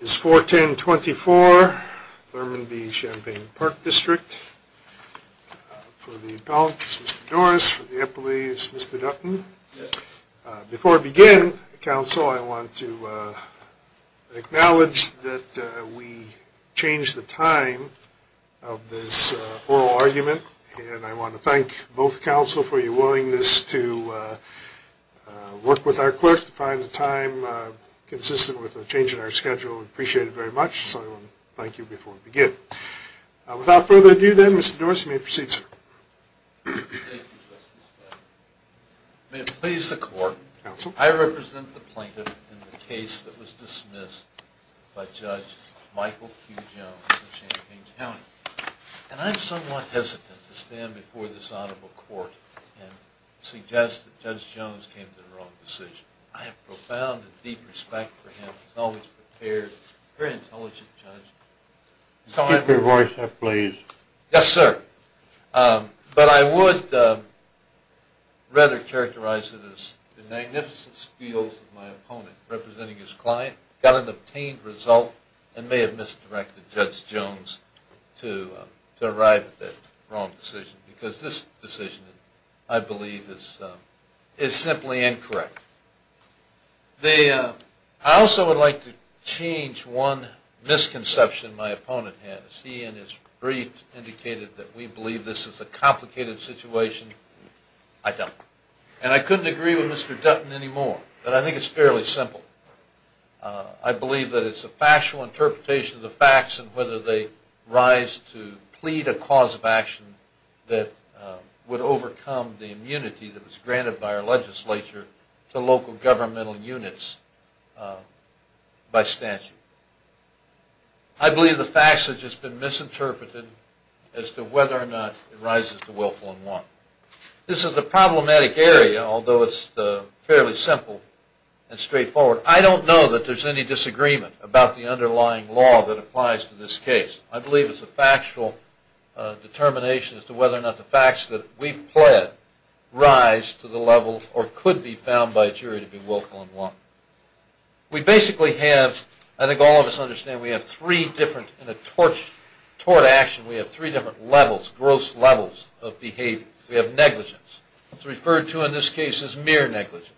It's 4-10-24, Thurman v. Champaign Park District. For the appellate, it's Mr. Dorris. For the appellate, it's Mr. Dutton. Before I begin, counsel, I want to acknowledge that we changed the time of this oral argument. And I want to thank both counsel for your willingness to work with our clerk to find a time consistent with the change in our schedule. We appreciate it very much, so I want to thank you before we begin. Without further ado then, Mr. Dorris, you may proceed, sir. May it please the court. Counsel. I represent the plaintiff in the case that was dismissed by Judge Michael Q. Jones of Champaign County. And I'm somewhat hesitant to stand before this honorable court and suggest that Judge Thank you. Thank you. Thank you. Thank you. Thank you. Thank you. Thank you. Thank you. Thank you. Thank you. Thank you. I do appreciate the profound and deep respect for him. He is always prepared. Who can I trust this with? Keep your voice up, please. Yes sir. I would rather characterize it as the magnificent skills of my opponent representing his client got an obtained result and may have misdirected Judge Jones to arrive at that wrong decision, because this decision I believe is simply incorrect. I also would like to change one misconception my opponent has. He in his brief indicated that we believe this is a complicated situation. I don't. And I couldn't agree with Mr. Dutton anymore, but I think it's fairly simple. I believe that it's a factual interpretation of the facts and whether they rise to plead a cause of action that would overcome the immunity that was granted by our legislature to local governmental units by statute. I believe the facts have just been misinterpreted as to whether or not it rises to willful and want. This is a problematic area, although it's fairly simple and straightforward. I don't know that there's any disagreement about the underlying law that applies to this case. I believe it's a factual determination as to whether or not the facts that we've pled rise to the level or could be found by a jury to be willful and want. We basically have, I think all of us understand, we have three different, in a tort action, we have three different levels, gross levels of behavior. We have negligence. It's referred to in this case as mere negligence.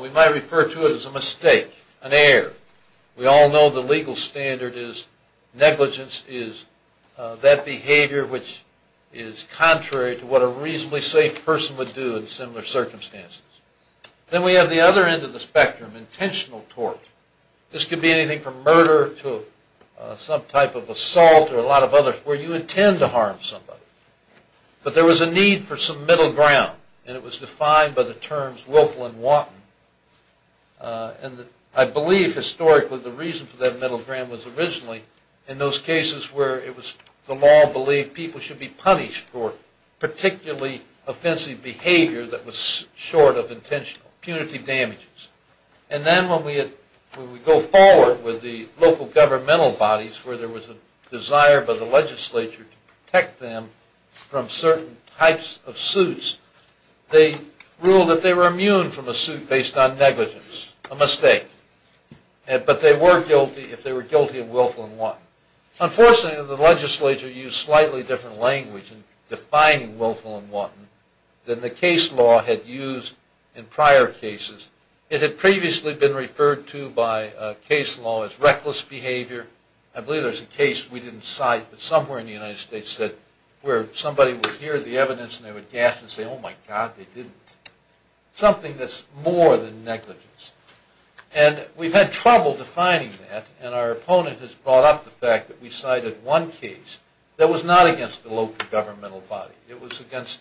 We might refer to it as a mistake, an error. We all know the legal standard is negligence is that behavior which is contrary to what a reasonably safe person would do in similar circumstances. Then we have the other end of the spectrum, intentional tort. This could be anything from murder to some type of assault or a lot of others where you intend to harm somebody. But there was a need for some middle ground, and it was defined by the terms willful and want. And I believe historically the reason for that middle ground was originally in those cases where it was the law believed people should be punished for particularly offensive behavior that was short of intentional, punitive damages. And then when we go forward with the local governmental bodies where there was a desire by the legislature to protect them from certain types of suits, they ruled that they were immune from a suit based on negligence, a mistake. But they were guilty if they were guilty of willful and want. Unfortunately, the legislature used slightly different language in defining willful and want than the case law had used in prior cases. It had previously been referred to by case law as reckless behavior. I believe there's a case we didn't cite, but somewhere in the United States, where somebody would hear the evidence and they would gasp and say, oh, my God, they didn't. Something that's more than negligence. And we've had trouble defining that, and our opponent has brought up the fact that we cited one case that was not against the local governmental body. It was against,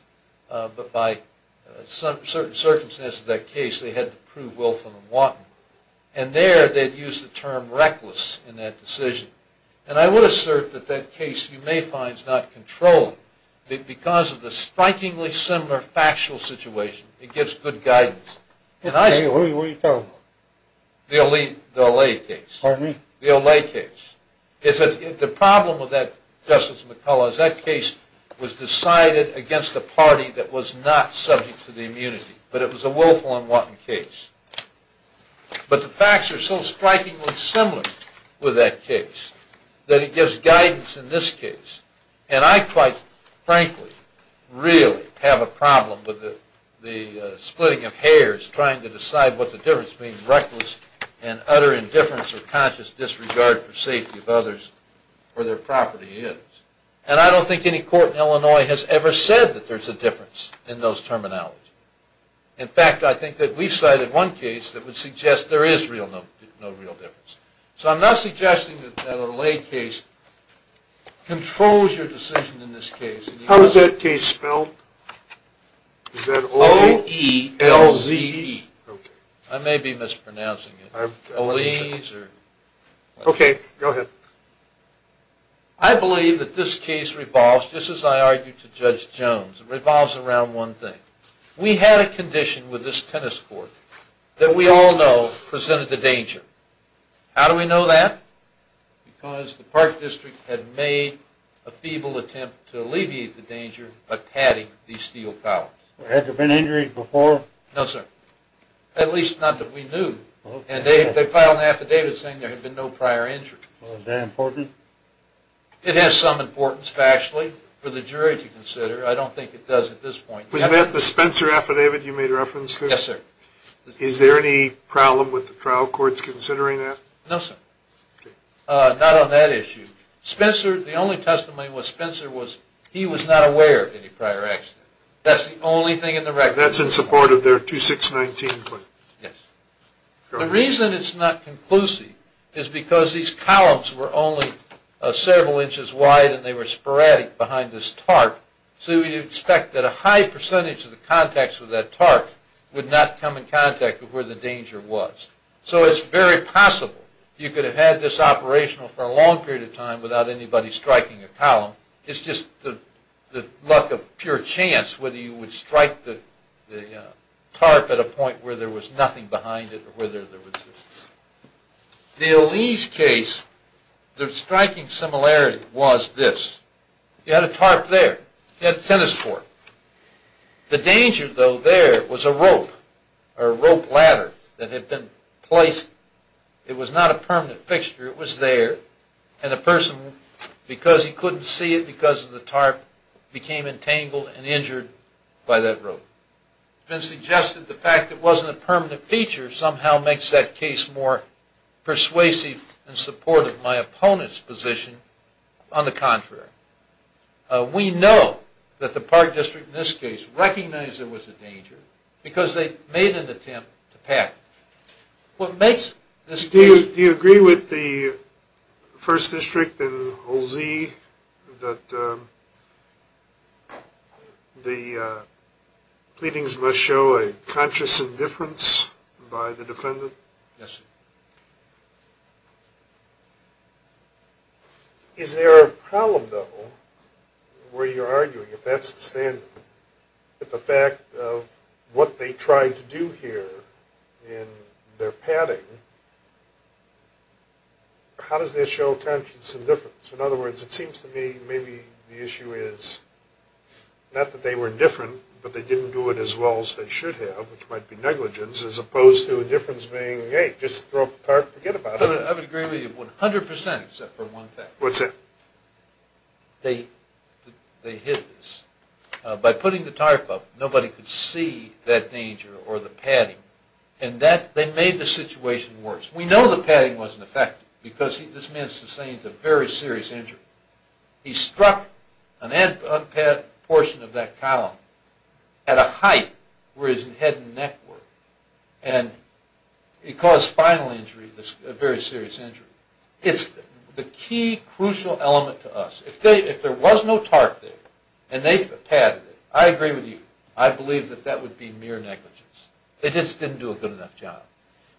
but by certain circumstances of that case, they had to prove willful and want. And there they'd use the term reckless in that decision. And I would assert that that case you may find is not controlled. Because of the strikingly similar factual situation, it gives good guidance. What are you talking about? The Olay case. Pardon me? The Olay case. The problem with that, Justice McCullough, is that case was decided against a party that was not subject to the immunity. But it was a willful and want case. But the facts are so strikingly similar with that case that it gives guidance in this case. And I quite frankly really have a problem with the splitting of hairs trying to decide what the difference between reckless and utter indifference or conscious disregard for safety of others or their property is. And I don't think any court in Illinois has ever said that there's a difference in those terminology. In fact, I think that we cited one case that would suggest there is no real difference. So I'm not suggesting that the Olay case controls your decision in this case. How is that case spelled? O-E-L-Z-E. I may be mispronouncing it. Okay, go ahead. I believe that this case revolves, just as I argued to Judge Jones, it revolves around one thing. We had a condition with this tennis court that we all know presented a danger. How do we know that? Because the Park District had made a feeble attempt to alleviate the danger by patting these steel towers. Had there been injuries before? No, sir. At least not that we knew. And they filed an affidavit saying there had been no prior injury. Is that important? It has some importance factually for the jury to consider. I don't think it does at this point. Was that the Spencer affidavit you made reference to? Yes, sir. Is there any problem with the trial courts considering that? No, sir. Not on that issue. Spencer, the only testimony was Spencer was, he was not aware of any prior accident. That's the only thing in the record. All right, that's in support of their 2619 claim. Yes. The reason it's not conclusive is because these columns were only several inches wide and they were sporadic behind this tarp. So we expect that a high percentage of the contacts with that tarp would not come in contact with where the danger was. So it's very possible you could have had this operational for a long period of time without anybody striking a column. It's just the luck of pure chance whether you would strike the tarp at a point where there was nothing behind it or whether there was this. The Elise case, the striking similarity was this. You had a tarp there. You had a tennis court. The danger, though, there was a rope or rope ladder that had been placed. It was not a permanent fixture. It was there. And a person, because he couldn't see it because of the tarp, became entangled and injured by that rope. It's been suggested the fact that it wasn't a permanent feature somehow makes that case more persuasive in support of my opponent's position. On the contrary, we know that the Park District in this case recognized there was a danger because they made an attempt to pack it. Do you agree with the First District and Olsey that the pleadings must show a conscious indifference by the defendant? Yes, sir. Is there a problem, though, where you're arguing, if that's the standard, that the fact of what they tried to do here in their padding, how does this show conscious indifference? In other words, it seems to me maybe the issue is not that they were indifferent, but they didn't do it as well as they should have, which might be negligence, as opposed to indifference being, hey, just throw up a tarp, forget about it. I would agree with you 100 percent, except for one thing. What's that? They hid this. By putting the tarp up, nobody could see that danger or the padding, and they made the situation worse. We know the padding wasn't effective because this man sustained a very serious injury. He struck an unpadded portion of that column at a height where his head and neck were, and it caused spinal injury, a very serious injury. It's the key crucial element to us. If there was no tarp there and they padded it, I agree with you. I believe that that would be mere negligence. They just didn't do a good enough job.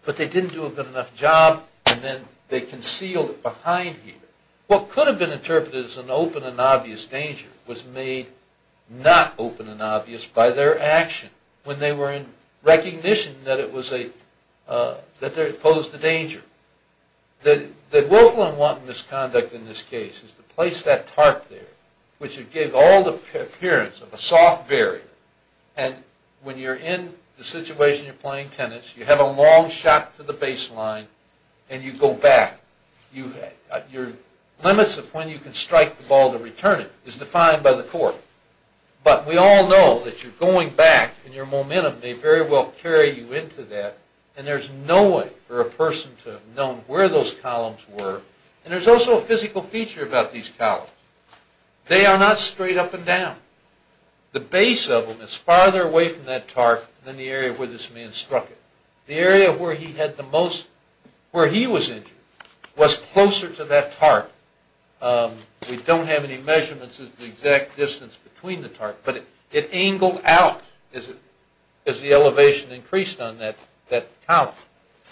But they didn't do a good enough job, and then they concealed it behind here. What could have been interpreted as an open and obvious danger was made not open and obvious by their action when they were in recognition that it posed a danger. The Wolfram-Wanton misconduct in this case is to place that tarp there, which would give all the appearance of a soft barrier, and when you're in the situation you're playing tennis, you have a long shot to the baseline, and you go back. Your limits of when you can strike the ball to return it is defined by the court. But we all know that your going back and your momentum may very well carry you into that, and there's no way for a person to have known where those columns were. And there's also a physical feature about these columns. They are not straight up and down. The base of them is farther away from that tarp than the area where this man struck it. The area where he was injured was closer to that tarp. We don't have any measurements of the exact distance between the tarp, but it angled out as the elevation increased on that column.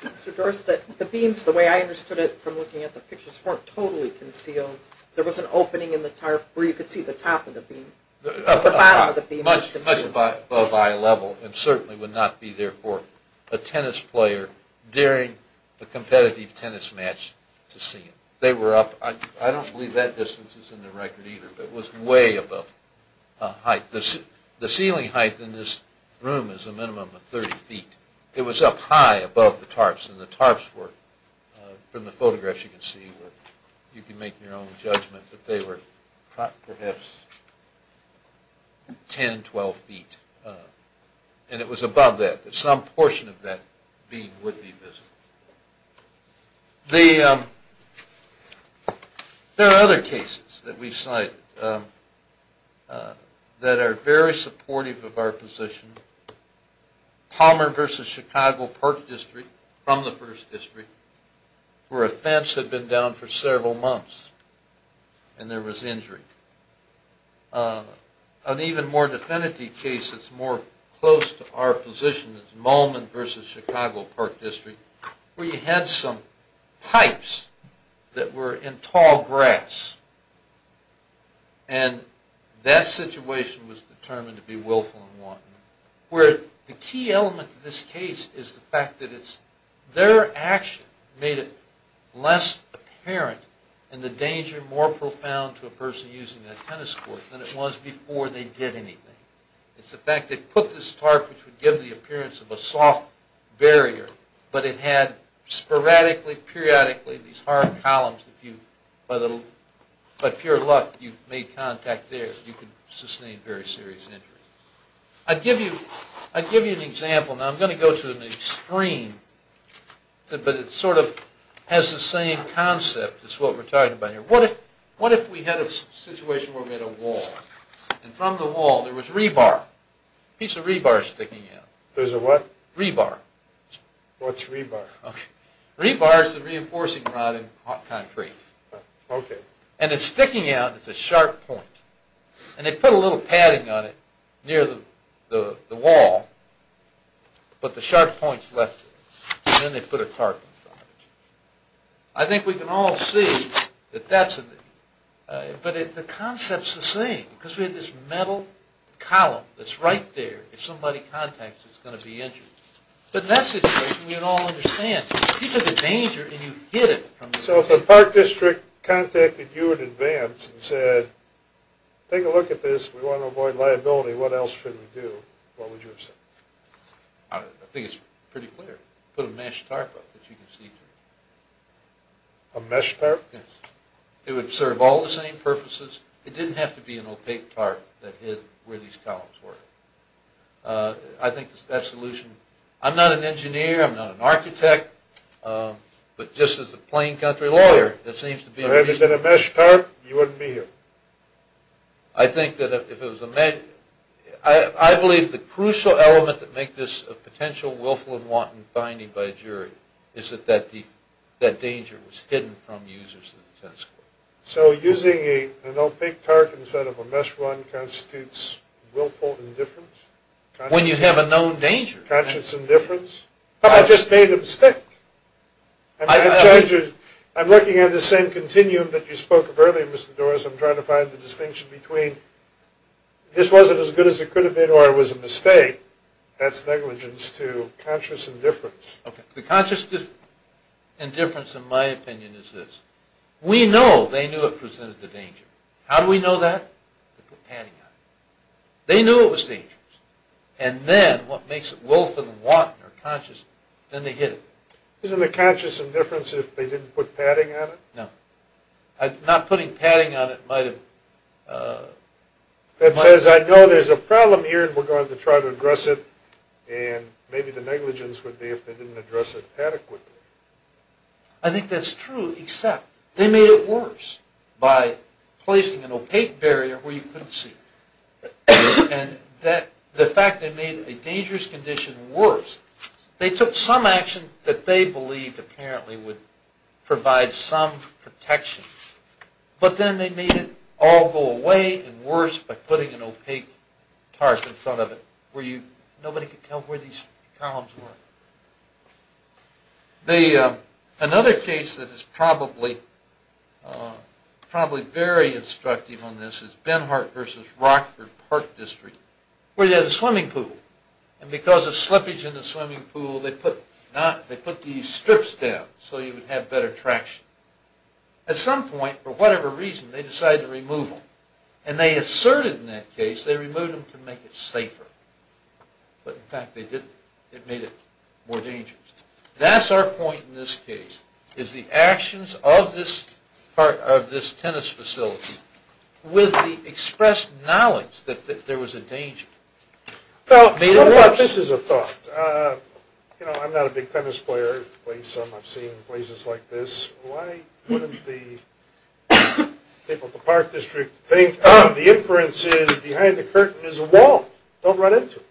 Mr. Doris, the beams, the way I understood it from looking at the pictures, weren't totally concealed. There was an opening in the tarp where you could see the top of the beam. Much above eye level and certainly would not be there for a tennis player during a competitive tennis match to see it. They were up, I don't believe that distance is in the record either, but it was way above height. The ceiling height in this room is a minimum of 30 feet. It was up high above the tarps, and the tarps were, from the photographs you can see, you can make your own judgment, but they were perhaps 10, 12 feet. And it was above that. Some portion of that beam would be visible. There are other cases that we cite that are very supportive of our position. Palmer v. Chicago Park District, from the First District, where a fence had been down for several months and there was injury. An even more definitive case that's more close to our position is where you had some pipes that were in tall grass, and that situation was determined to be willful and wanton. Where the key element to this case is the fact that their action made it less apparent and the danger more profound to a person using a tennis court than it was before they did anything. It's the fact they put this tarp, which would give the appearance of a soft barrier, but it had sporadically, periodically, these hard columns. By pure luck, you made contact there. You could sustain very serious injuries. I'd give you an example. Now, I'm going to go to an extreme, but it sort of has the same concept as what we're talking about here. What if we had a situation where we had a wall, and from the wall there was rebar, a piece of rebar sticking out. There's a what? Rebar. What's rebar? Okay. Rebar is the reinforcing rod in hot concrete. Okay. And it's sticking out. It's a sharp point. And they put a little padding on it near the wall, but the sharp point's left. And then they put a tarp on it. I think we can all see that that's a... But the concept's the same, because we had this metal column that's right there. If somebody contacts it, it's going to be injured. But in that situation, we would all understand. You took a danger, and you hid it. So if the park district contacted you in advance and said, take a look at this. We want to avoid liability. What else should we do? What would you have said? I think it's pretty clear. Put a mesh tarp up that you can see through. A mesh tarp? Yes. It would serve all the same purposes. It didn't have to be an opaque tarp that hid where these columns were. I think that solution... I'm not an engineer. I'm not an architect. But just as a plain country lawyer, it seems to be... If it had been a mesh tarp, you wouldn't be here. I think that if it was a mesh... I believe the crucial element that makes this a potential willful and wanton finding by a jury is that that danger was hidden from users of the tennis court. So using an opaque tarp instead of a mesh one constitutes willful indifference? When you have a known danger. Conscious indifference? I just made a mistake. I'm looking at the same continuum that you spoke of earlier, Mr. Doris. I'm trying to find the distinction between this wasn't as good as it could have been or it was a mistake. That's negligence to conscious indifference. The conscious indifference, in my opinion, is this. We know they knew it presented the danger. How do we know that? They put padding on it. They knew it was dangerous. And then what makes it willful and wanton or conscious, then they hid it. Isn't it conscious indifference if they didn't put padding on it? No. Not putting padding on it might have... That says, I know there's a problem here and we're going to try to address it, and maybe the negligence would be if they didn't address it adequately. I think that's true, except they made it worse by placing an opaque barrier where you couldn't see. And the fact they made a dangerous condition worse, they took some action that they believed apparently would provide some protection, but then they made it all go away and worse by putting an opaque tarp in front of it where nobody could tell where these columns were. Another case that is probably very instructive on this is Benhart v. Rockford Park District, where they had a swimming pool. And because of slippage in the swimming pool, they put these strips down so you would have better traction. At some point, for whatever reason, they decided to remove them. And they asserted in that case they removed them to make it safer. But in fact, they didn't. It made it more dangerous. That's our point in this case, is the actions of this part of this tennis facility with the expressed knowledge that there was a danger. Well, this is a thought. You know, I'm not a big tennis player. I've played some. I've seen places like this. Why wouldn't the people at the park district think, oh, the inference is behind the curtain is a wall. Don't run into it.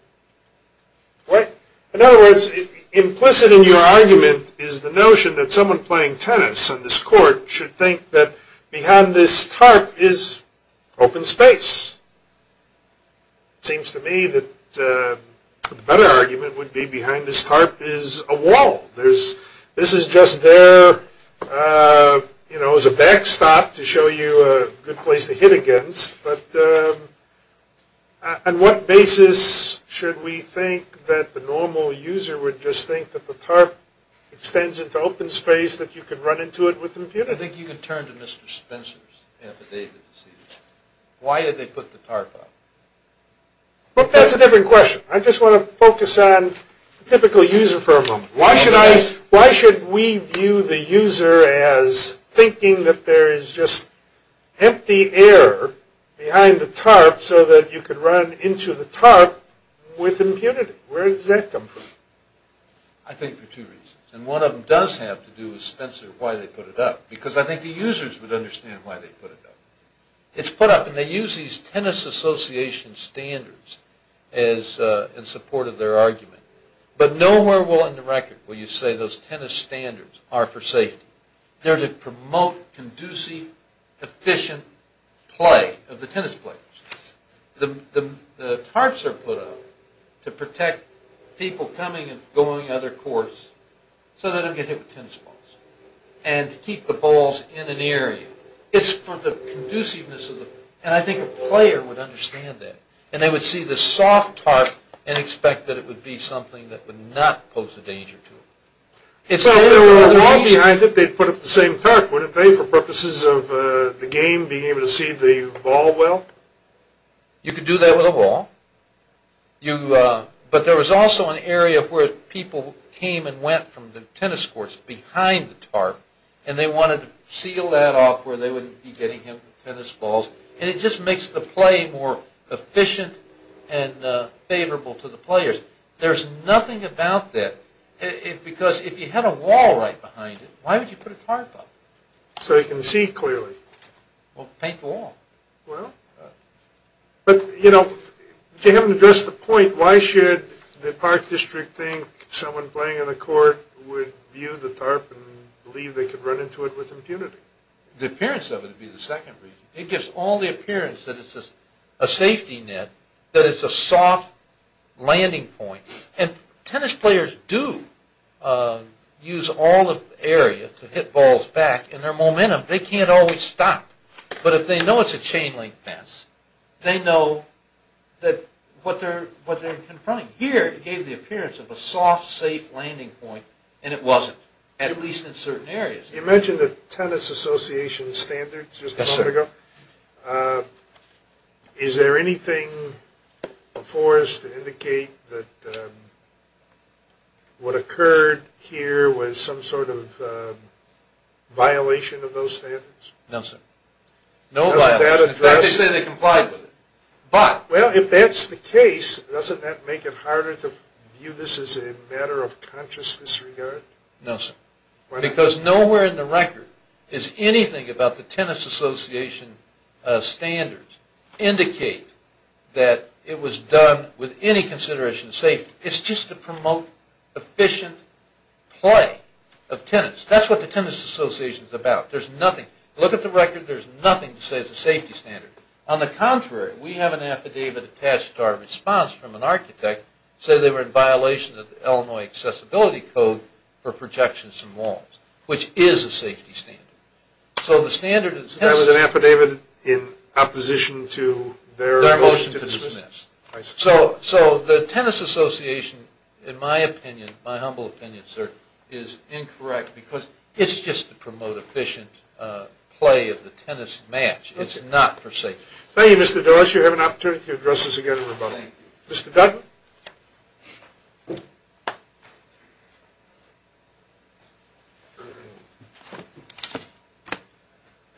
In other words, implicit in your argument is the notion that someone playing tennis on this court should think that behind this tarp is open space. It seems to me that the better argument would be behind this tarp is a wall. This is just there, you know, as a backstop to show you a good place to hit against. But on what basis should we think that the normal user would just think that the tarp extends into open space that you could run into it with a computer? I think you could turn to Mr. Spencer's affidavit. Why did they put the tarp up? That's a different question. I just want to focus on the typical user for a moment. Why should we view the user as thinking that there is just empty air behind the tarp so that you could run into the tarp with impunity? Where does that come from? I think for two reasons. And one of them does have to do with Spencer, why they put it up. Because I think the users would understand why they put it up. It's put up, and they use these tennis association standards in support of their argument. But nowhere in the record will you say those tennis standards are for safety. They're to promote conducive, efficient play of the tennis players. The tarps are put up to protect people coming and going on their course so they don't get hit with tennis balls. And to keep the balls in an area. It's for the conduciveness of the player. And I think a player would understand that. And they would see the soft tarp and expect that it would be something that would not pose a danger to them. Well, if there were a wall behind it, they'd put up the same tarp, wouldn't they, for purposes of the game being able to see the ball well? You could do that with a wall. But there was also an area where people came and went from the tennis courts behind the tarp, and they wanted to seal that off where they wouldn't be getting hit with tennis balls. And it just makes the play more efficient and favorable to the players. There's nothing about that. Because if you had a wall right behind it, why would you put a tarp up? So they can see clearly. Well, paint the wall. But, you know, if you haven't addressed the point, why should the Park District think someone playing on the court would view the tarp and believe they could run into it with impunity? The appearance of it would be the second reason. It gives all the appearance that it's a safety net, that it's a soft landing point. And tennis players do use all the area to hit balls back in their momentum. They can't always stop. But if they know it's a chain-link fence, they know what they're confronting. Here it gave the appearance of a soft, safe landing point, and it wasn't, at least in certain areas. You mentioned the Tennis Association standards just a moment ago. Yes, sir. Is there anything before us to indicate that what occurred here was some sort of violation of those standards? No, sir. No violation. Doesn't that address it? In fact, they say they complied with it. But. Well, if that's the case, doesn't that make it harder to view this as a matter of conscious disregard? No, sir. Because nowhere in the record is anything about the Tennis Association standards indicate that it was done with any consideration of safety. It's just to promote efficient play of tennis. That's what the Tennis Association is about. There's nothing. Look at the record. There's nothing to say it's a safety standard. On the contrary, we have an affidavit attached to our response from an architect, say they were in violation of the Illinois Accessibility Code for projections and walls, which is a safety standard. So the standard. So that was an affidavit in opposition to their motion to dismiss? Their motion to dismiss. I see. So the Tennis Association, in my opinion, my humble opinion, sir, is incorrect because it's just to promote efficient play of the tennis match. It's not for safety. Thank you, Mr. Dawes. You have an opportunity to address this again in rebuttal. Thank you. Mr. Dutton.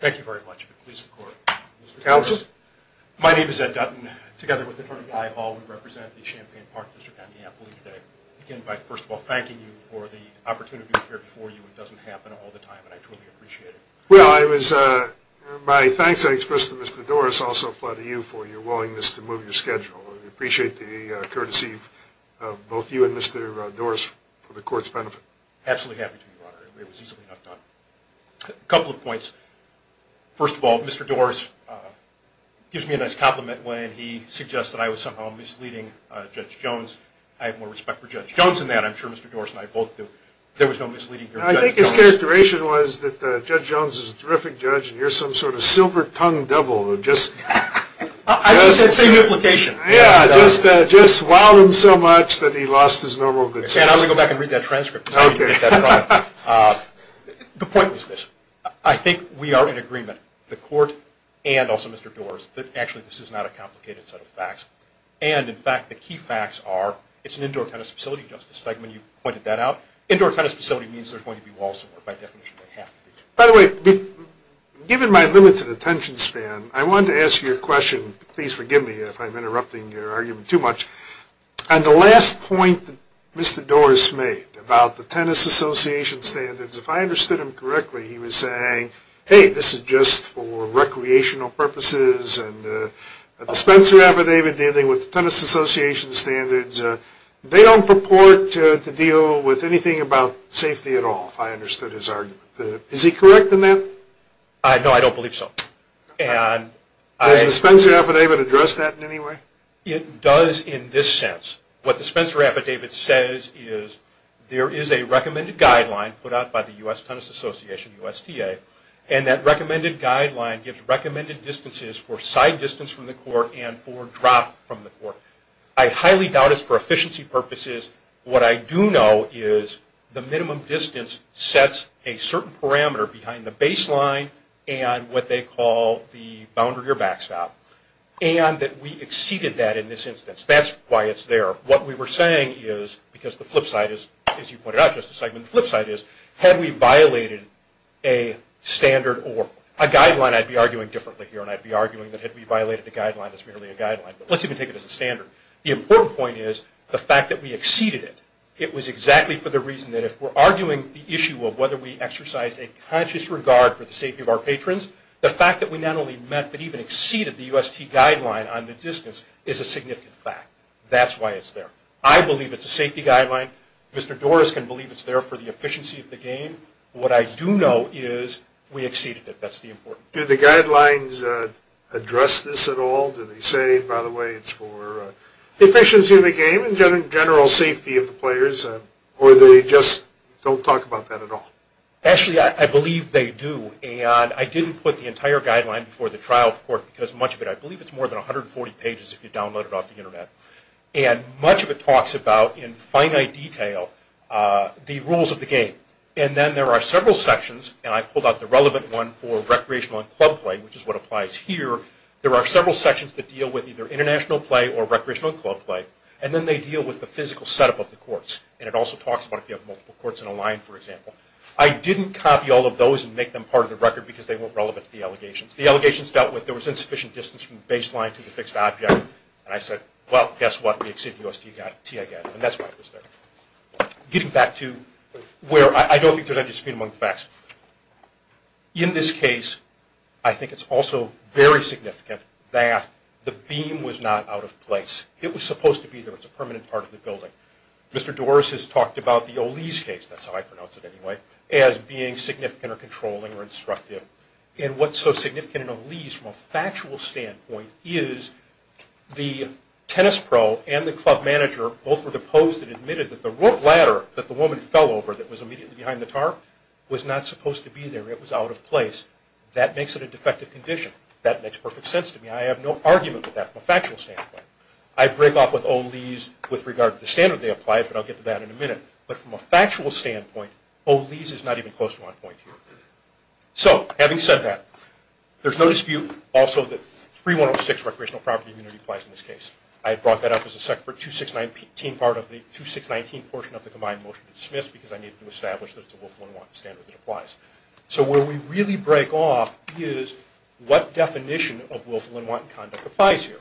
Thank you very much. If it please the Court. Counsel. My name is Ed Dutton. Together with Attorney Guy Hall, we represent the Champaign Park District on the ambulee today. I begin by, first of all, thanking you for the opportunity to appear before you. It doesn't happen all the time, and I truly appreciate it. Well, it was my thanks I expressed to Mr. Doris also apply to you for your willingness to move your schedule. I appreciate the courtesy of both you and Mr. Doris for the Court's benefit. Absolutely happy to, Your Honor. It was easily enough done. A couple of points. First of all, Mr. Doris gives me a nice compliment when he suggests that I was somehow misleading Judge Jones. I have more respect for Judge Jones in that. I'm sure Mr. Doris and I both do. There was no misleading here with Judge Jones. I think his characterization was that Judge Jones is a terrific judge, and you're some sort of silver-tongued devil. I think it's the same implication. Yeah, just wowed him so much that he lost his normal good sense. I'm going to go back and read that transcript. Okay. The point is this. I think we are in agreement, the Court and also Mr. Doris, that actually this is not a complicated set of facts. And, in fact, the key facts are it's an indoor tennis facility, Justice Stegman. You pointed that out. Indoor tennis facility means there's going to be walls somewhere. By definition, they have to be. By the way, given my limited attention span, I wanted to ask you a question. Please forgive me if I'm interrupting your argument too much. On the last point that Mr. Doris made about the tennis association standards, if I understood him correctly, he was saying, hey, this is just for recreational purposes, and the Spencer affidavit dealing with the tennis association standards, they don't purport to deal with anything about safety at all, if I understood his argument. Is he correct in that? No, I don't believe so. Does the Spencer affidavit address that in any way? It does in this sense. What the Spencer affidavit says is there is a recommended guideline put out by the U.S. Tennis Association, USDA, and that recommended guideline gives recommended distances for side distance from the court and for drop from the court. I highly doubt it's for efficiency purposes. What I do know is the minimum distance sets a certain parameter behind the baseline and what they call the boundary or backstop, and that we exceeded that in this instance. That's why it's there. What we were saying is, because the flip side is, as you pointed out, Justice Seidman, the flip side is had we violated a standard or a guideline, I'd be arguing differently here, and I'd be arguing that had we violated the guideline, it's merely a guideline. Let's even take it as a standard. The important point is the fact that we exceeded it. It was exactly for the reason that if we're arguing the issue of whether we exercised a conscious regard for the safety of our patrons, the fact that we not only met but even exceeded the U.S. T. guideline on the distance is a significant fact. That's why it's there. I believe it's a safety guideline. Mr. Doris can believe it's there for the efficiency of the game. What I do know is we exceeded it. That's the important thing. Do the guidelines address this at all? Do they say, by the way, it's for the efficiency of the game and general safety of the players, or do they just don't talk about that at all? Actually, I believe they do. I didn't put the entire guideline before the trial court because much of it, I believe it's more than 140 pages if you download it off the Internet. Much of it talks about, in finite detail, the rules of the game. Then there are several sections, and I pulled out the relevant one for recreational and club play, which is what applies here. There are several sections that deal with either international play or recreational and club play, and then they deal with the physical setup of the courts, and it also talks about if you have multiple courts in a line, for example. I didn't copy all of those and make them part of the record because they weren't relevant to the allegations. The allegations dealt with there was insufficient distance from the baseline to the fixed object, and I said, well, guess what? We exceeded the U.S. T. guideline, and that's why it was there. Getting back to where I don't think there's any dispute among the facts. In this case, I think it's also very significant that the beam was not out of place. It was supposed to be there. It's a permanent part of the building. Mr. Doris has talked about the O'Lee's case, that's how I pronounce it anyway, as being significant or controlling or instructive, and what's so significant in O'Lee's from a factual standpoint is the tennis pro and the club manager both were deposed and admitted that the ladder that the woman fell over that was immediately behind the tarp was not supposed to be there. It was out of place. That makes it a defective condition. That makes perfect sense to me. I have no argument with that from a factual standpoint. I break off with O'Lee's with regard to the standard they applied, but I'll get to that in a minute, but from a factual standpoint, O'Lee's is not even close to my point here. So, having said that, there's no dispute also that 3106, recreational property immunity, applies in this case. I brought that up as a Section 2619 part of the 2619 portion of the combined motion to dismiss because I need to establish that it's a Willful and Wanton standard that applies. So, where we really break off is what definition of Willful and Wanton conduct applies here,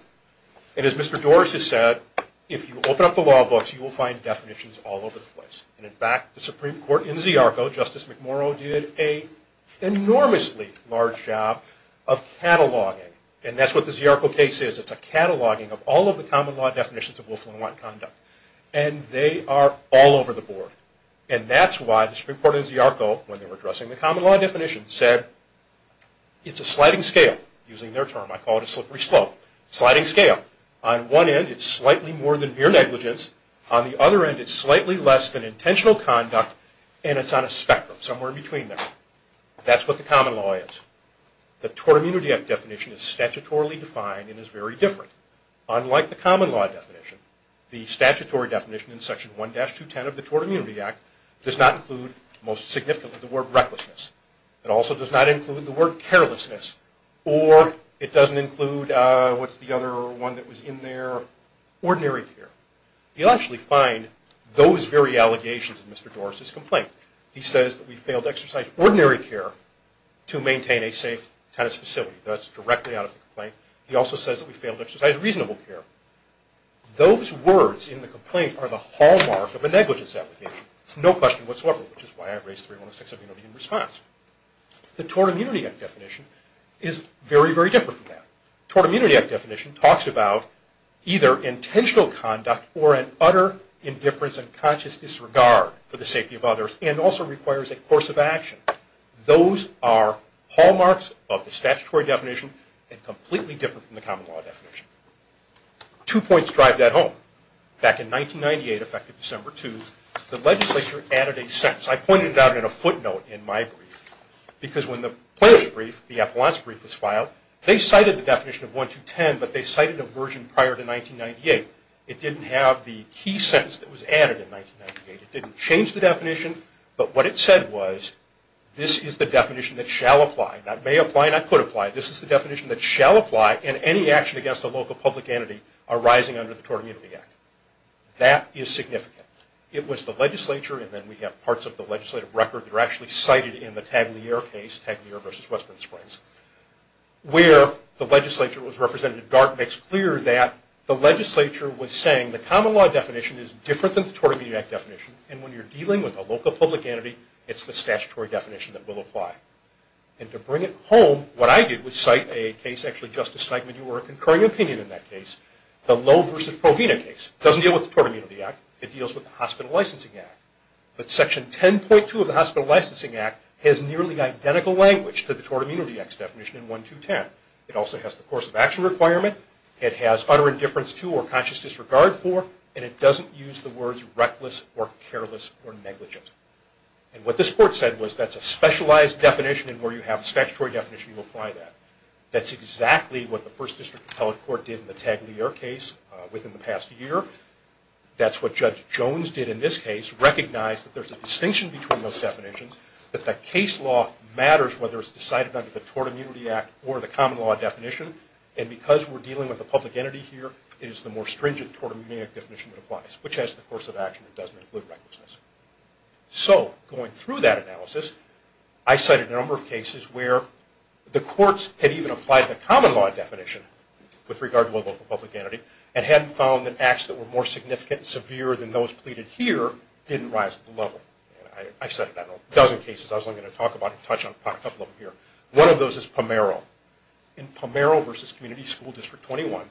and as Mr. Doris has said, if you open up the law books, you will find definitions all over the place, and, in fact, the Supreme Court in Ziarko, Justice McMurrow did an enormously large job of cataloging, and that's what the Ziarko case is. It's a cataloging of all of the common law definitions of Willful and Wanton conduct, and they are all over the board, and that's why the Supreme Court in Ziarko, when they were addressing the common law definition, said it's a sliding scale, using their term. I call it a slippery slope. Sliding scale. On one end, it's slightly more than mere negligence. On the other end, it's slightly less than intentional conduct, and it's on a spectrum, somewhere in between there. That's what the common law is. The Tort Immunity Act definition is statutorily defined and is very different. Unlike the common law definition, the statutory definition in Section 1-210 of the Tort Immunity Act does not include, most significantly, the word recklessness. It also does not include the word carelessness, or it doesn't include, what's the other one that was in there, ordinary care. You'll actually find those very allegations in Mr. Doris's complaint. He says that we failed to exercise ordinary care to maintain a safe tennis facility. That's directly out of the complaint. He also says that we failed to exercise reasonable care. Those words in the complaint are the hallmark of a negligence application. No question whatsoever, which is why I raised 3106, immunity in response. The Tort Immunity Act definition is very, very different from that. The Tort Immunity Act definition talks about either intentional conduct or an utter indifference and conscious disregard for the safety of others, and also requires a course of action. Those are hallmarks of the statutory definition, and completely different from the common law definition. Two points drive that home. Back in 1998, effective December 2, the legislature added a sentence. I pointed it out in a footnote in my brief, because when the plaintiff's brief, the Appellant's brief was filed, they cited the definition of 1-210, but they cited a version prior to 1998. It didn't have the key sentence that was added in 1998. It didn't change the definition, but what it said was, this is the definition that shall apply. Not may apply, not could apply. This is the definition that shall apply in any action against a local public entity arising under the Tort Immunity Act. That is significant. It was the legislature, and then we have parts of the legislative record that are actually cited in the Taglier case, Taglier v. Westman Springs, where the legislature was represented. DART makes clear that the legislature was saying the common law definition is different than the Tort Immunity Act definition, and when you're dealing with a local public entity, it's the statutory definition that will apply. To bring it home, what I did was cite a case, actually Justice Steinman, you were a concurring opinion in that case, the Lowe v. Provena case. It doesn't deal with the Tort Immunity Act. It deals with the Hospital Licensing Act. But Section 10.2 of the Hospital Licensing Act has nearly identical language to the Tort Immunity Act's definition in 1-210. It also has the course of action requirement. It has utter indifference to or conscious disregard for, and it doesn't use the words reckless or careless or negligent. And what this court said was that's a specialized definition, and where you have a statutory definition, you apply that. That's exactly what the First District Appellate Court did in the Taglier case within the past year. That's what Judge Jones did in this case, recognized that there's a distinction between those definitions, that the case law matters whether it's decided under the Tort Immunity Act or the common law definition, and because we're dealing with a public entity here, it is the more stringent Tort Immunity Act definition that applies, which has the course of action and doesn't include recklessness. So going through that analysis, I cited a number of cases where the courts had even applied the common law definition with regard to a local public entity and hadn't found that acts that were more significant and severe than those pleaded here didn't rise to the level. I cited that in a dozen cases. I was only going to touch on a couple of them here. One of those is Pomero. In Pomero v. Community School District 21,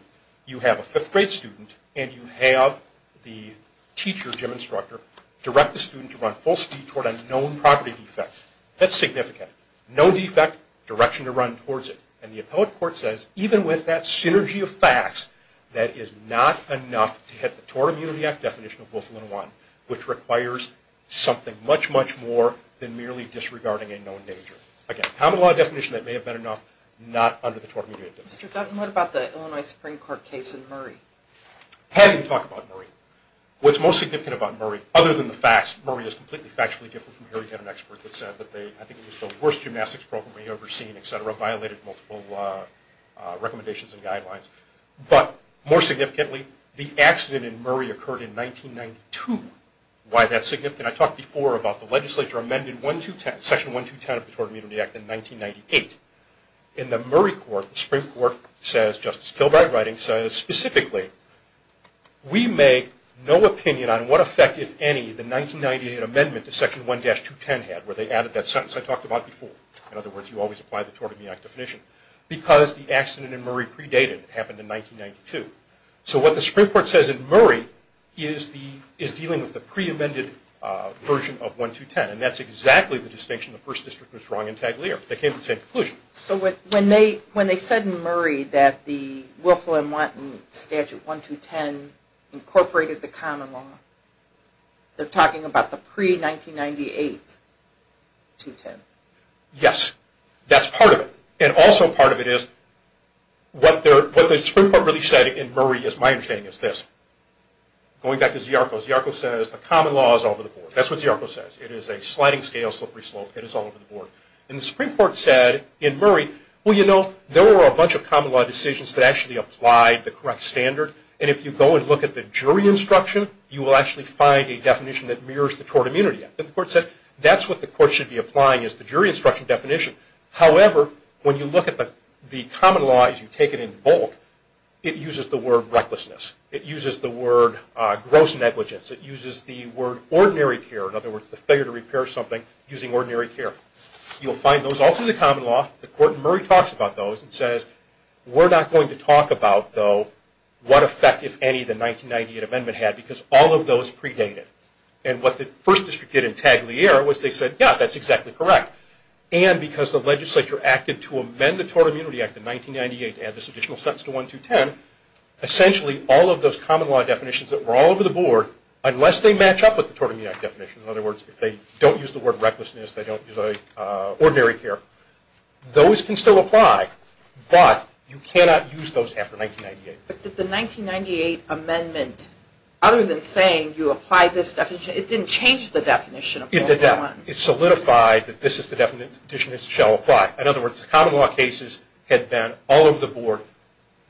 you have a fifth grade student and you have the teacher, gym instructor, direct the student to run full speed toward a known property defect. That's significant. No defect, direction to run towards it. And the Appellate Court says, even with that synergy of facts, that is not enough to hit the Tort Immunity Act definition of Wilfelin I, which requires something much, much more than merely disregarding a known danger. Again, common law definition, that may have been enough, not under the Tort Immunity Act definition. Mr. Dutton, what about the Illinois Supreme Court case in Murray? Hadn't talked about Murray. What's most significant about Murray, other than the facts, Murray is completely factually different from here. You had an expert that said that they, I think it was the worst gymnastics program they'd ever seen, et cetera, violated multiple recommendations and guidelines. But more significantly, the accident in Murray occurred in 1992. Why that's significant, I talked before about the legislature amended Section 1210 of the Tort Immunity Act in 1998. In the Murray court, the Supreme Court says, Justice Kilbride writing, says specifically, we make no opinion on what effect, if any, the 1998 amendment to Section 1-210 had, where they added that sentence I talked about before. In other words, you always apply the Tort Immunity Act definition. Because the accident in Murray predated what happened in 1992. So what the Supreme Court says in Murray is dealing with the pre-amended version of 1210. And that's exactly the distinction the First District was drawing in Taglier. They came to the same conclusion. So when they said in Murray that the Wilco and Wanton Statute 1-210 incorporated the common law, they're talking about the pre-1998 210? Yes. That's part of it. And also part of it is what the Supreme Court really said in Murray, is my understanding, is this. Going back to Ziarko, Ziarko says the common law is over the board. That's what Ziarko says. It is a sliding scale, slippery slope. It is all over the board. And the Supreme Court said in Murray, well, you know, there were a bunch of common law decisions that actually applied the correct standard. And if you go and look at the jury instruction, you will actually find a definition that mirrors the Tort Immunity Act. And the Court said that's what the Court should be applying is the jury instruction definition. However, when you look at the common law as you take it in bold, it uses the word recklessness. It uses the word gross negligence. It uses the word ordinary care. In other words, the failure to repair something using ordinary care. You'll find those all through the common law. The Court in Murray talks about those and says we're not going to talk about, though, what effect, if any, the 1998 amendment had because all of those predated. And what the First District did in Tagliere was they said, yeah, that's exactly correct. And because the legislature acted to amend the Tort Immunity Act in 1998 to add this additional sentence to 1210, essentially all of those common law definitions that were all over the board, unless they match up with the Tort Immunity Act definition, in other words, if they don't use the word recklessness, they don't use ordinary care, those can still apply, but you cannot use those after 1998. But did the 1998 amendment, other than saying you apply this definition, it didn't change the definition? It did not. It solidified that this is the definition that shall apply. In other words, the common law cases had been all over the board.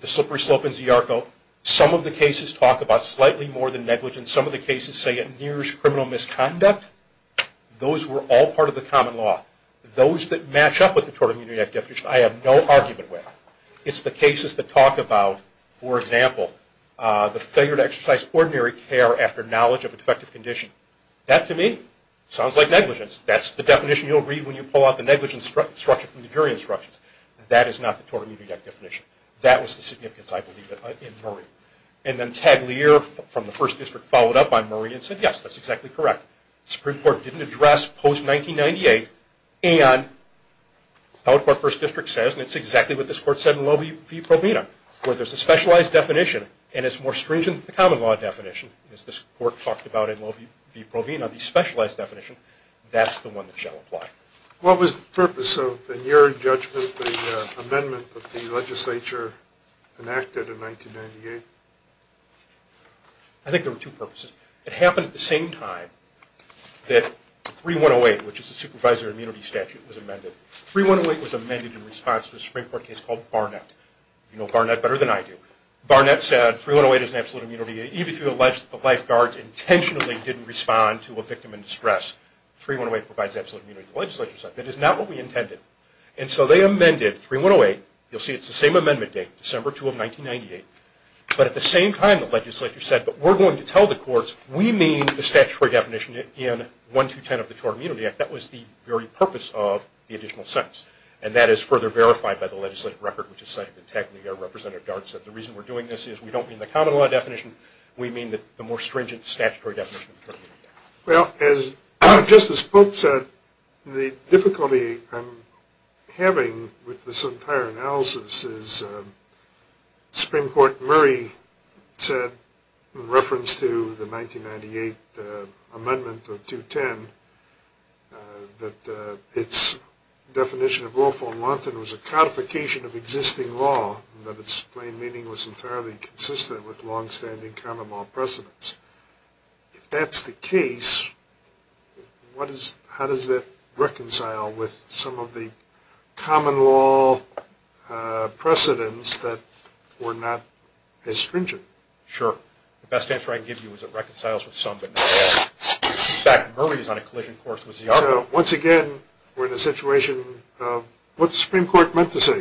The slippery slope in Ziarko. Some of the cases talk about slightly more than negligence. Some of the cases say it nears criminal misconduct. Those were all part of the common law. Those that match up with the Tort Immunity Act definition I have no argument with. It's the cases that talk about, for example, the failure to exercise ordinary care after knowledge of a defective condition. That, to me, sounds like negligence. That's the definition you'll read when you pull out the negligence structure from the jury instructions. That is not the Tort Immunity Act definition. That was the significance, I believe, in Murray. And then Taglier from the First District followed up on Murray and said, yes, that's exactly correct. The Supreme Court didn't address post-1998, and the Appellate Court First District says, and it's exactly what this Court said in Loewe v. Provena, where there's a specialized definition, and it's more stringent than the common law definition, as this Court talked about in Loewe v. Provena, the specialized definition. That's the one that shall apply. What was the purpose of, in your judgment, the amendment that the legislature enacted in 1998? I think there were two purposes. It happened at the same time that 3108, which is a supervisor immunity statute, was amended. 3108 was amended in response to a Supreme Court case called Barnett. You know Barnett better than I do. Barnett said 3108 is an absolute immunity. Even if you allege that the lifeguards intentionally didn't respond to a victim in distress, 3108 provides absolute immunity. The legislature said, that is not what we intended. And so they amended 3108. You'll see it's the same amendment date, December 2 of 1998. But at the same time, the legislature said, but we're going to tell the courts, we mean the statutory definition in 1-210 of the Tort Immunity Act. That was the very purpose of the additional sentence. And that is further verified by the legislative record, which is cited in technically there, Representative Dart said, the reason we're doing this is we don't mean the common law definition, we mean the more stringent statutory definition of the Tort Immunity Act. Well, as Justice Pope said, the difficulty I'm having with this entire analysis is Supreme Court Murray said, in reference to the 1998 amendment of 210, that its definition of lawful and wanton was a codification of existing law, but its plain meaning was entirely consistent with longstanding common law precedence. If that's the case, how does that reconcile with some of the common law precedence that were not as stringent? Sure. The best answer I can give you is it reconciles with some, but not all. In fact, Murray's on a collision course with Ziarda. So, once again, we're in a situation of, what's the Supreme Court meant to say?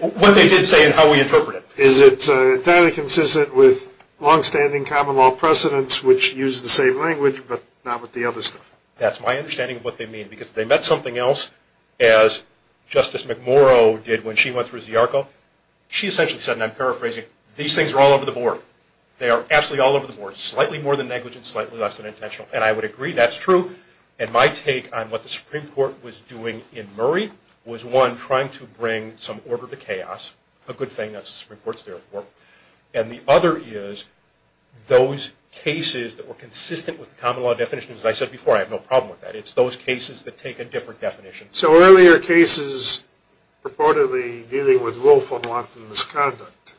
What they did say and how we interpret it. Is it entirely consistent with longstanding common law precedence, which uses the same language, but not with the other stuff? That's my understanding of what they mean. Because if they meant something else, as Justice McMurrow did when she went through ZIARCO, she essentially said, and I'm paraphrasing, these things are all over the board. They are absolutely all over the board. Slightly more than negligent, slightly less than intentional. And I would agree that's true. And my take on what the Supreme Court was doing in Murray was, one, trying to bring some order to chaos. A good thing that the Supreme Court's there for. And the other is, those cases that were consistent with the common law definition, as I said before, I have no problem with that. It's those cases that take a different definition. So, earlier cases purportedly dealing with willful and wanton misconduct,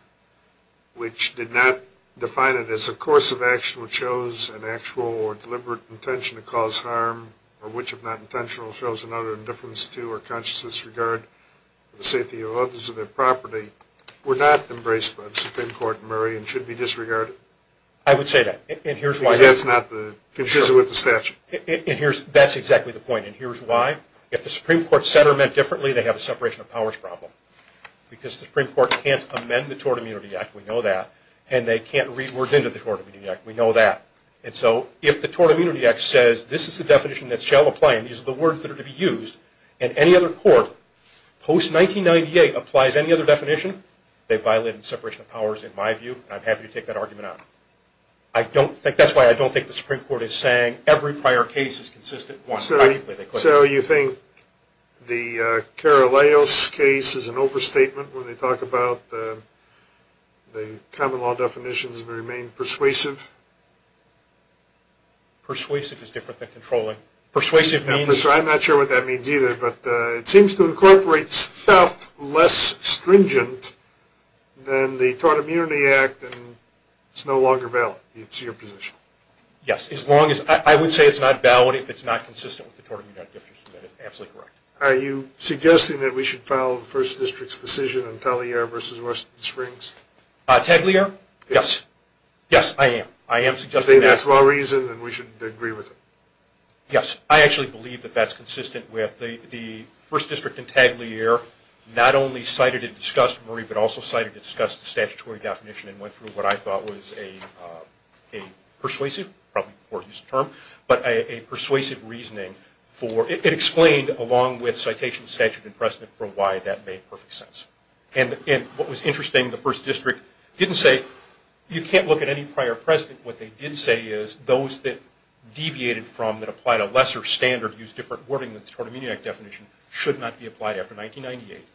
which did not define it as a course of action which shows an actual or deliberate intention to cause harm, or which, if not intentional, shows an utter indifference to or conscious disregard for the safety of others and their property, were not embraced by the Supreme Court in Murray and should be disregarded. I would say that. Because that's not consistent with the statute. That's exactly the point. And here's why. If the Supreme Court said or meant differently, they have a separation of powers problem. Because the Supreme Court can't amend the Tort Immunity Act. We know that. And they can't read words into the Tort Immunity Act. We know that. And so, if the Tort Immunity Act says, this is the definition that shall apply, and these are the words that are to be used, and any other court post-1998 applies any other definition, they've violated separation of powers, in my view, and I'm happy to take that argument out. That's why I don't think the Supreme Court is saying every prior case is consistent. So, you think the Caraleos case is an overstatement when they talk about the common law definitions and remain persuasive? Persuasive is different than controlling. Persuasive means... I'm not sure what that means either, but it seems to incorporate stuff less stringent than the Tort Immunity Act, and it's no longer valid. It's your position. Yes. I would say it's not valid if it's not consistent with the Tort Immunity Act. You're absolutely correct. Are you suggesting that we should follow the First District's decision on Pellier versus West Springs? Peglier? Yes. Yes, I am. I am suggesting that. That's my reason, and we should agree with it. Yes. I actually believe that that's consistent with the First District and Peglier not only cited and discussed Murray, but also cited and discussed the statutory definition and went through what I thought was a persuasive, probably a poor use of the term, but a persuasive reasoning for... It explained, along with citation, statute, and precedent, for why that made perfect sense. And what was interesting, the First District didn't say, you can't look at any prior precedent. What they did say is those that deviated from, that applied a lesser standard, used different wording than the Tort Immunity Act definition, should not be applied after 1998.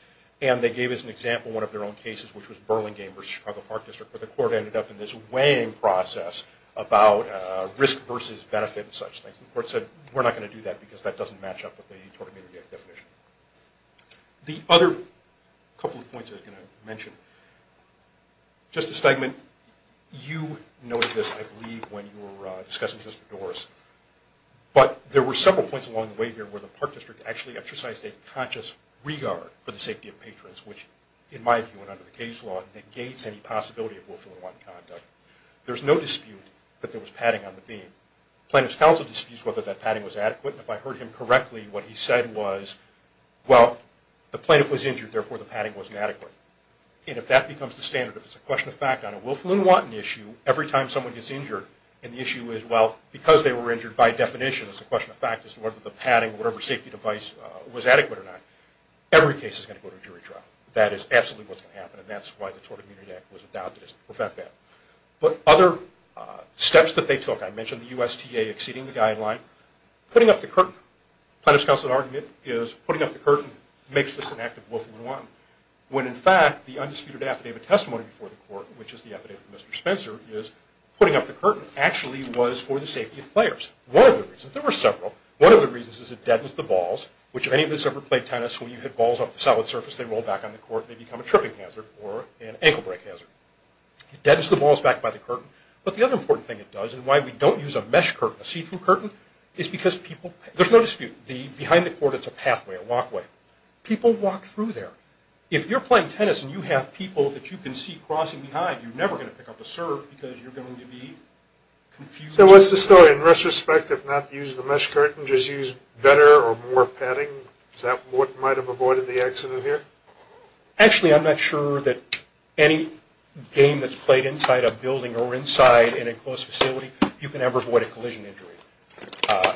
And they gave us an example, one of their own cases, which was Burlingame versus Chicago Park District, where the court ended up in this weighing process about risk versus benefit and such things. The court said, we're not going to do that because that doesn't match up with the Tort Immunity Act definition. The other couple of points I was going to mention. Justice Steigman, you noted this, I believe, when you were discussing Sister Doris, but there were several points along the way here where the Park District actually exercised a conscious regard for the safety of patrons, which, in my view, and under the case law, negates any possibility of willful or unwanted conduct. There's no dispute that there was padding on the beam. Plaintiff's counsel disputes whether that padding was adequate, and if I heard him correctly, what he said was, well, the plaintiff was injured, therefore the padding wasn't adequate. And if that becomes the standard, if it's a question of fact, on a willful and unwanted issue, every time someone gets injured, and the issue is, well, because they were injured by definition, it's a question of fact as to whether the padding or whatever safety device was adequate or not, every case is going to go to a jury trial. That is absolutely what's going to happen, and that's why the Tort Immunity Act was adopted to prevent that. But other steps that they took, I mentioned the USTA exceeding the guideline, putting up the curtain. makes this an act of willful and unwanted. When in fact, the undisputed affidavit testimony before the court, which is the affidavit of Mr. Spencer, is putting up the curtain actually was for the safety of players. One of the reasons, there were several, one of the reasons is it deadens the balls, which if any of us ever played tennis, when you hit balls off the solid surface, they roll back on the court, they become a tripping hazard or an ankle break hazard. It deadens the balls back by the curtain, but the other important thing it does, and why we don't use a mesh curtain, a see-through curtain, is because people, there's no dispute, behind the court it's a pathway, a walkway. People walk through there. If you're playing tennis and you have people that you can see crossing behind, you're never going to pick up a serve because you're going to be confused. So what's the story? In retrospect, if not use the mesh curtain, just use better or more padding? Is that what might have avoided the accident here? Actually, I'm not sure that any game that's played inside a building or inside in a closed facility, you can ever avoid a collision injury.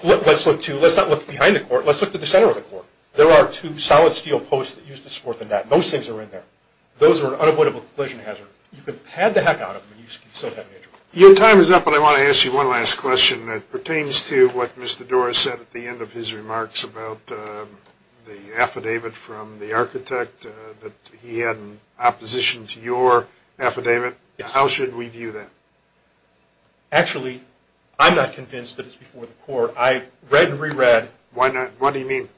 Let's look to, let's not look behind the court, let's look to the center of the court. There are two solid steel posts that used to support the net. Those things are in there. Those are an unavoidable collision hazard. You can pad the heck out of them and you can still have an injury. Your time is up, but I want to ask you one last question. It pertains to what Mr. Doris said at the end of his remarks about the affidavit from the architect that he had in opposition to your affidavit. How should we view that? Actually, I'm not convinced that it's before the court. I've read and reread. Why not? What do you mean?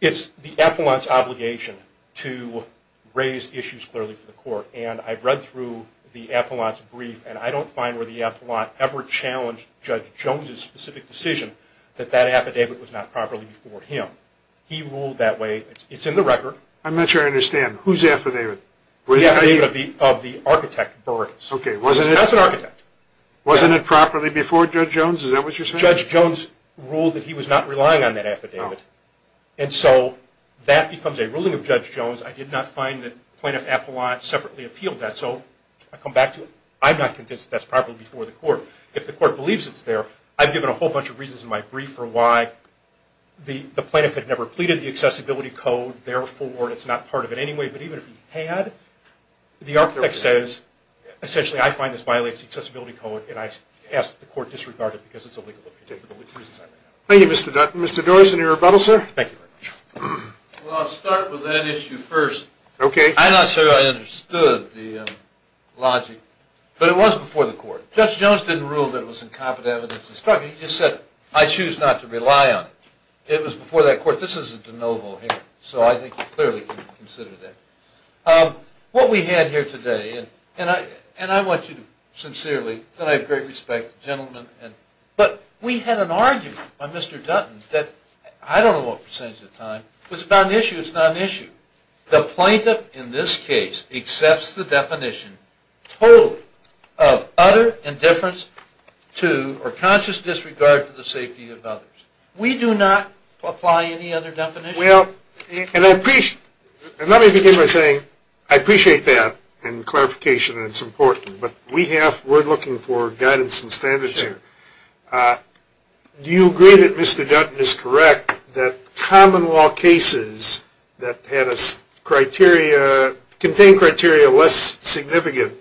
It's the appellant's obligation to raise issues clearly for the court, and I've read through the appellant's brief, and I don't find where the appellant ever challenged Judge Jones's specific decision that that affidavit was not properly before him. He ruled that way. It's in the record. I'm not sure I understand. Whose affidavit? The affidavit of the architect, Burris. Okay, wasn't it? That's an architect. Wasn't it properly before Judge Jones? Is that what you're saying? Judge Jones ruled that he was not relying on that affidavit, and so that becomes a ruling of Judge Jones. I did not find that Plaintiff Appellant separately appealed that, so I come back to it. I'm not convinced that that's properly before the court. If the court believes it's there, I've given a whole bunch of reasons in my brief for why the plaintiff had never pleaded the accessibility code. Therefore, it's not part of it anyway, but even if he had, the architect says, essentially, I find this violates the accessibility code, and I ask that the court disregard it because it's illegal. Thank you, Mr. Doris. Any rebuttals, sir? Thank you very much. Well, I'll start with that issue first. Okay. I'm not sure I understood the logic, but it was before the court. Judge Jones didn't rule that it was incompetent evidence. He just said, I choose not to rely on it. It was before that court. This is a de novo here, so I think you clearly can consider that. What we had here today, and I want you to sincerely, and I have great respect for the gentleman, but we had an argument by Mr. Dutton that, I don't know what percentage of the time, was about an issue that's not an issue. The plaintiff, in this case, accepts the definition totally of utter indifference to or conscious disregard for the safety of others. We do not apply any other definition. Well, and let me begin by saying, I appreciate that in clarification, and it's important, but we're looking for guidance and standards here. Do you agree that Mr. Dutton is correct that common law cases that contain criteria less significant,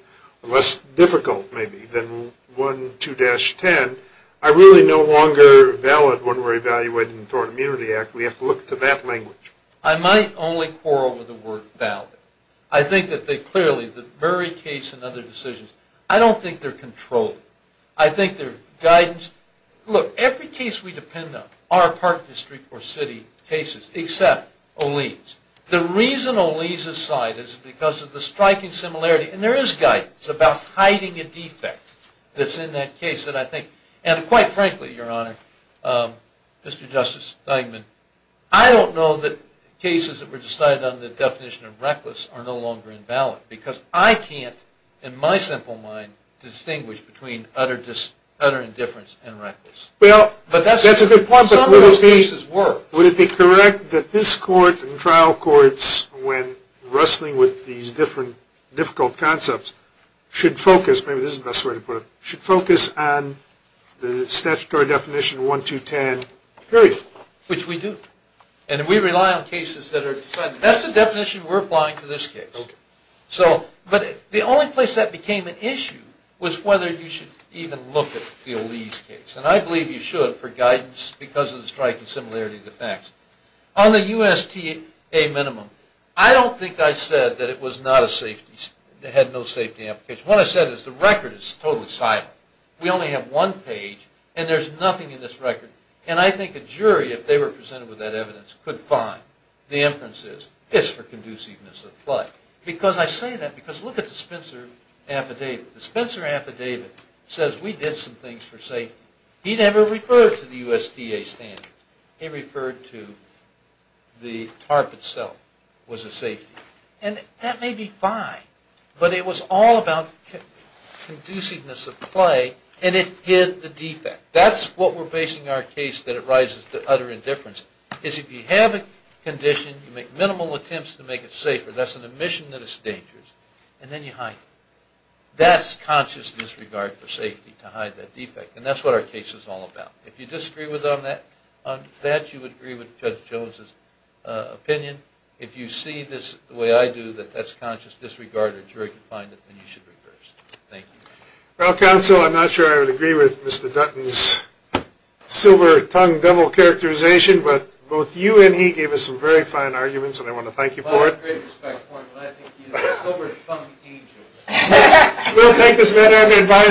less difficult maybe, than 1, 2-10, are really no longer valid when we're evaluating the Thorne Immunity Act. We have to look to that language. I might only quarrel with the word valid. I think that they clearly, the very case and other decisions, I don't think they're controlled. I think they're guidance. Look, every case we depend on, our park district or city cases, except O'Lee's. The reason O'Lee's aside is because of the striking similarity, and there is guidance about hiding a defect that's in that case that I think, and quite frankly, Your Honor, Mr. Justice Steinman, I don't know that cases that were decided on the definition of reckless are no longer invalid, because I can't, in my simple mind, distinguish between utter indifference and reckless. Well, that's a good point. Some of those cases were. Would it be correct that this Court and trial courts, when wrestling with these different difficult concepts, should focus, maybe this is the best way to put it, should focus on the statutory definition of 1-2-10, period? Which we do. And we rely on cases that are decided. That's the definition we're applying to this case. But the only place that became an issue was whether you should even look at the O'Lee's case, and I believe you should for guidance because of the striking similarity defects. On the USTA minimum, I don't think I said that it had no safety application. What I said is the record is totally silent. We only have one page, and there's nothing in this record. And I think a jury, if they were presented with that evidence, could find the inferences. It's for conduciveness of play. Because I say that, because look at the Spencer affidavit. The Spencer affidavit says we did some things for safety. He never referred to the USDA standards. He referred to the TARP itself was a safety. And that may be fine, but it was all about conduciveness of play, and it hid the defect. That's what we're basing our case that it rises to utter indifference, is if you have a condition, you make minimal attempts to make it safer, that's an admission that it's dangerous, and then you hide it. That's conscious disregard for safety, to hide that defect, and that's what our case is all about. If you disagree with that, you would agree with Judge Jones' opinion. If you see this the way I do, that that's conscious disregard, or jury can find it, then you should reverse it. Thank you. Well, counsel, I'm not sure I would agree with Mr. Dutton's silver tongue devil characterization, but both you and he gave us some very fine arguments, and I want to thank you for it. Well, I have great respect for him, but I think he's a silver tongue angel. We'll take this matter under advisement.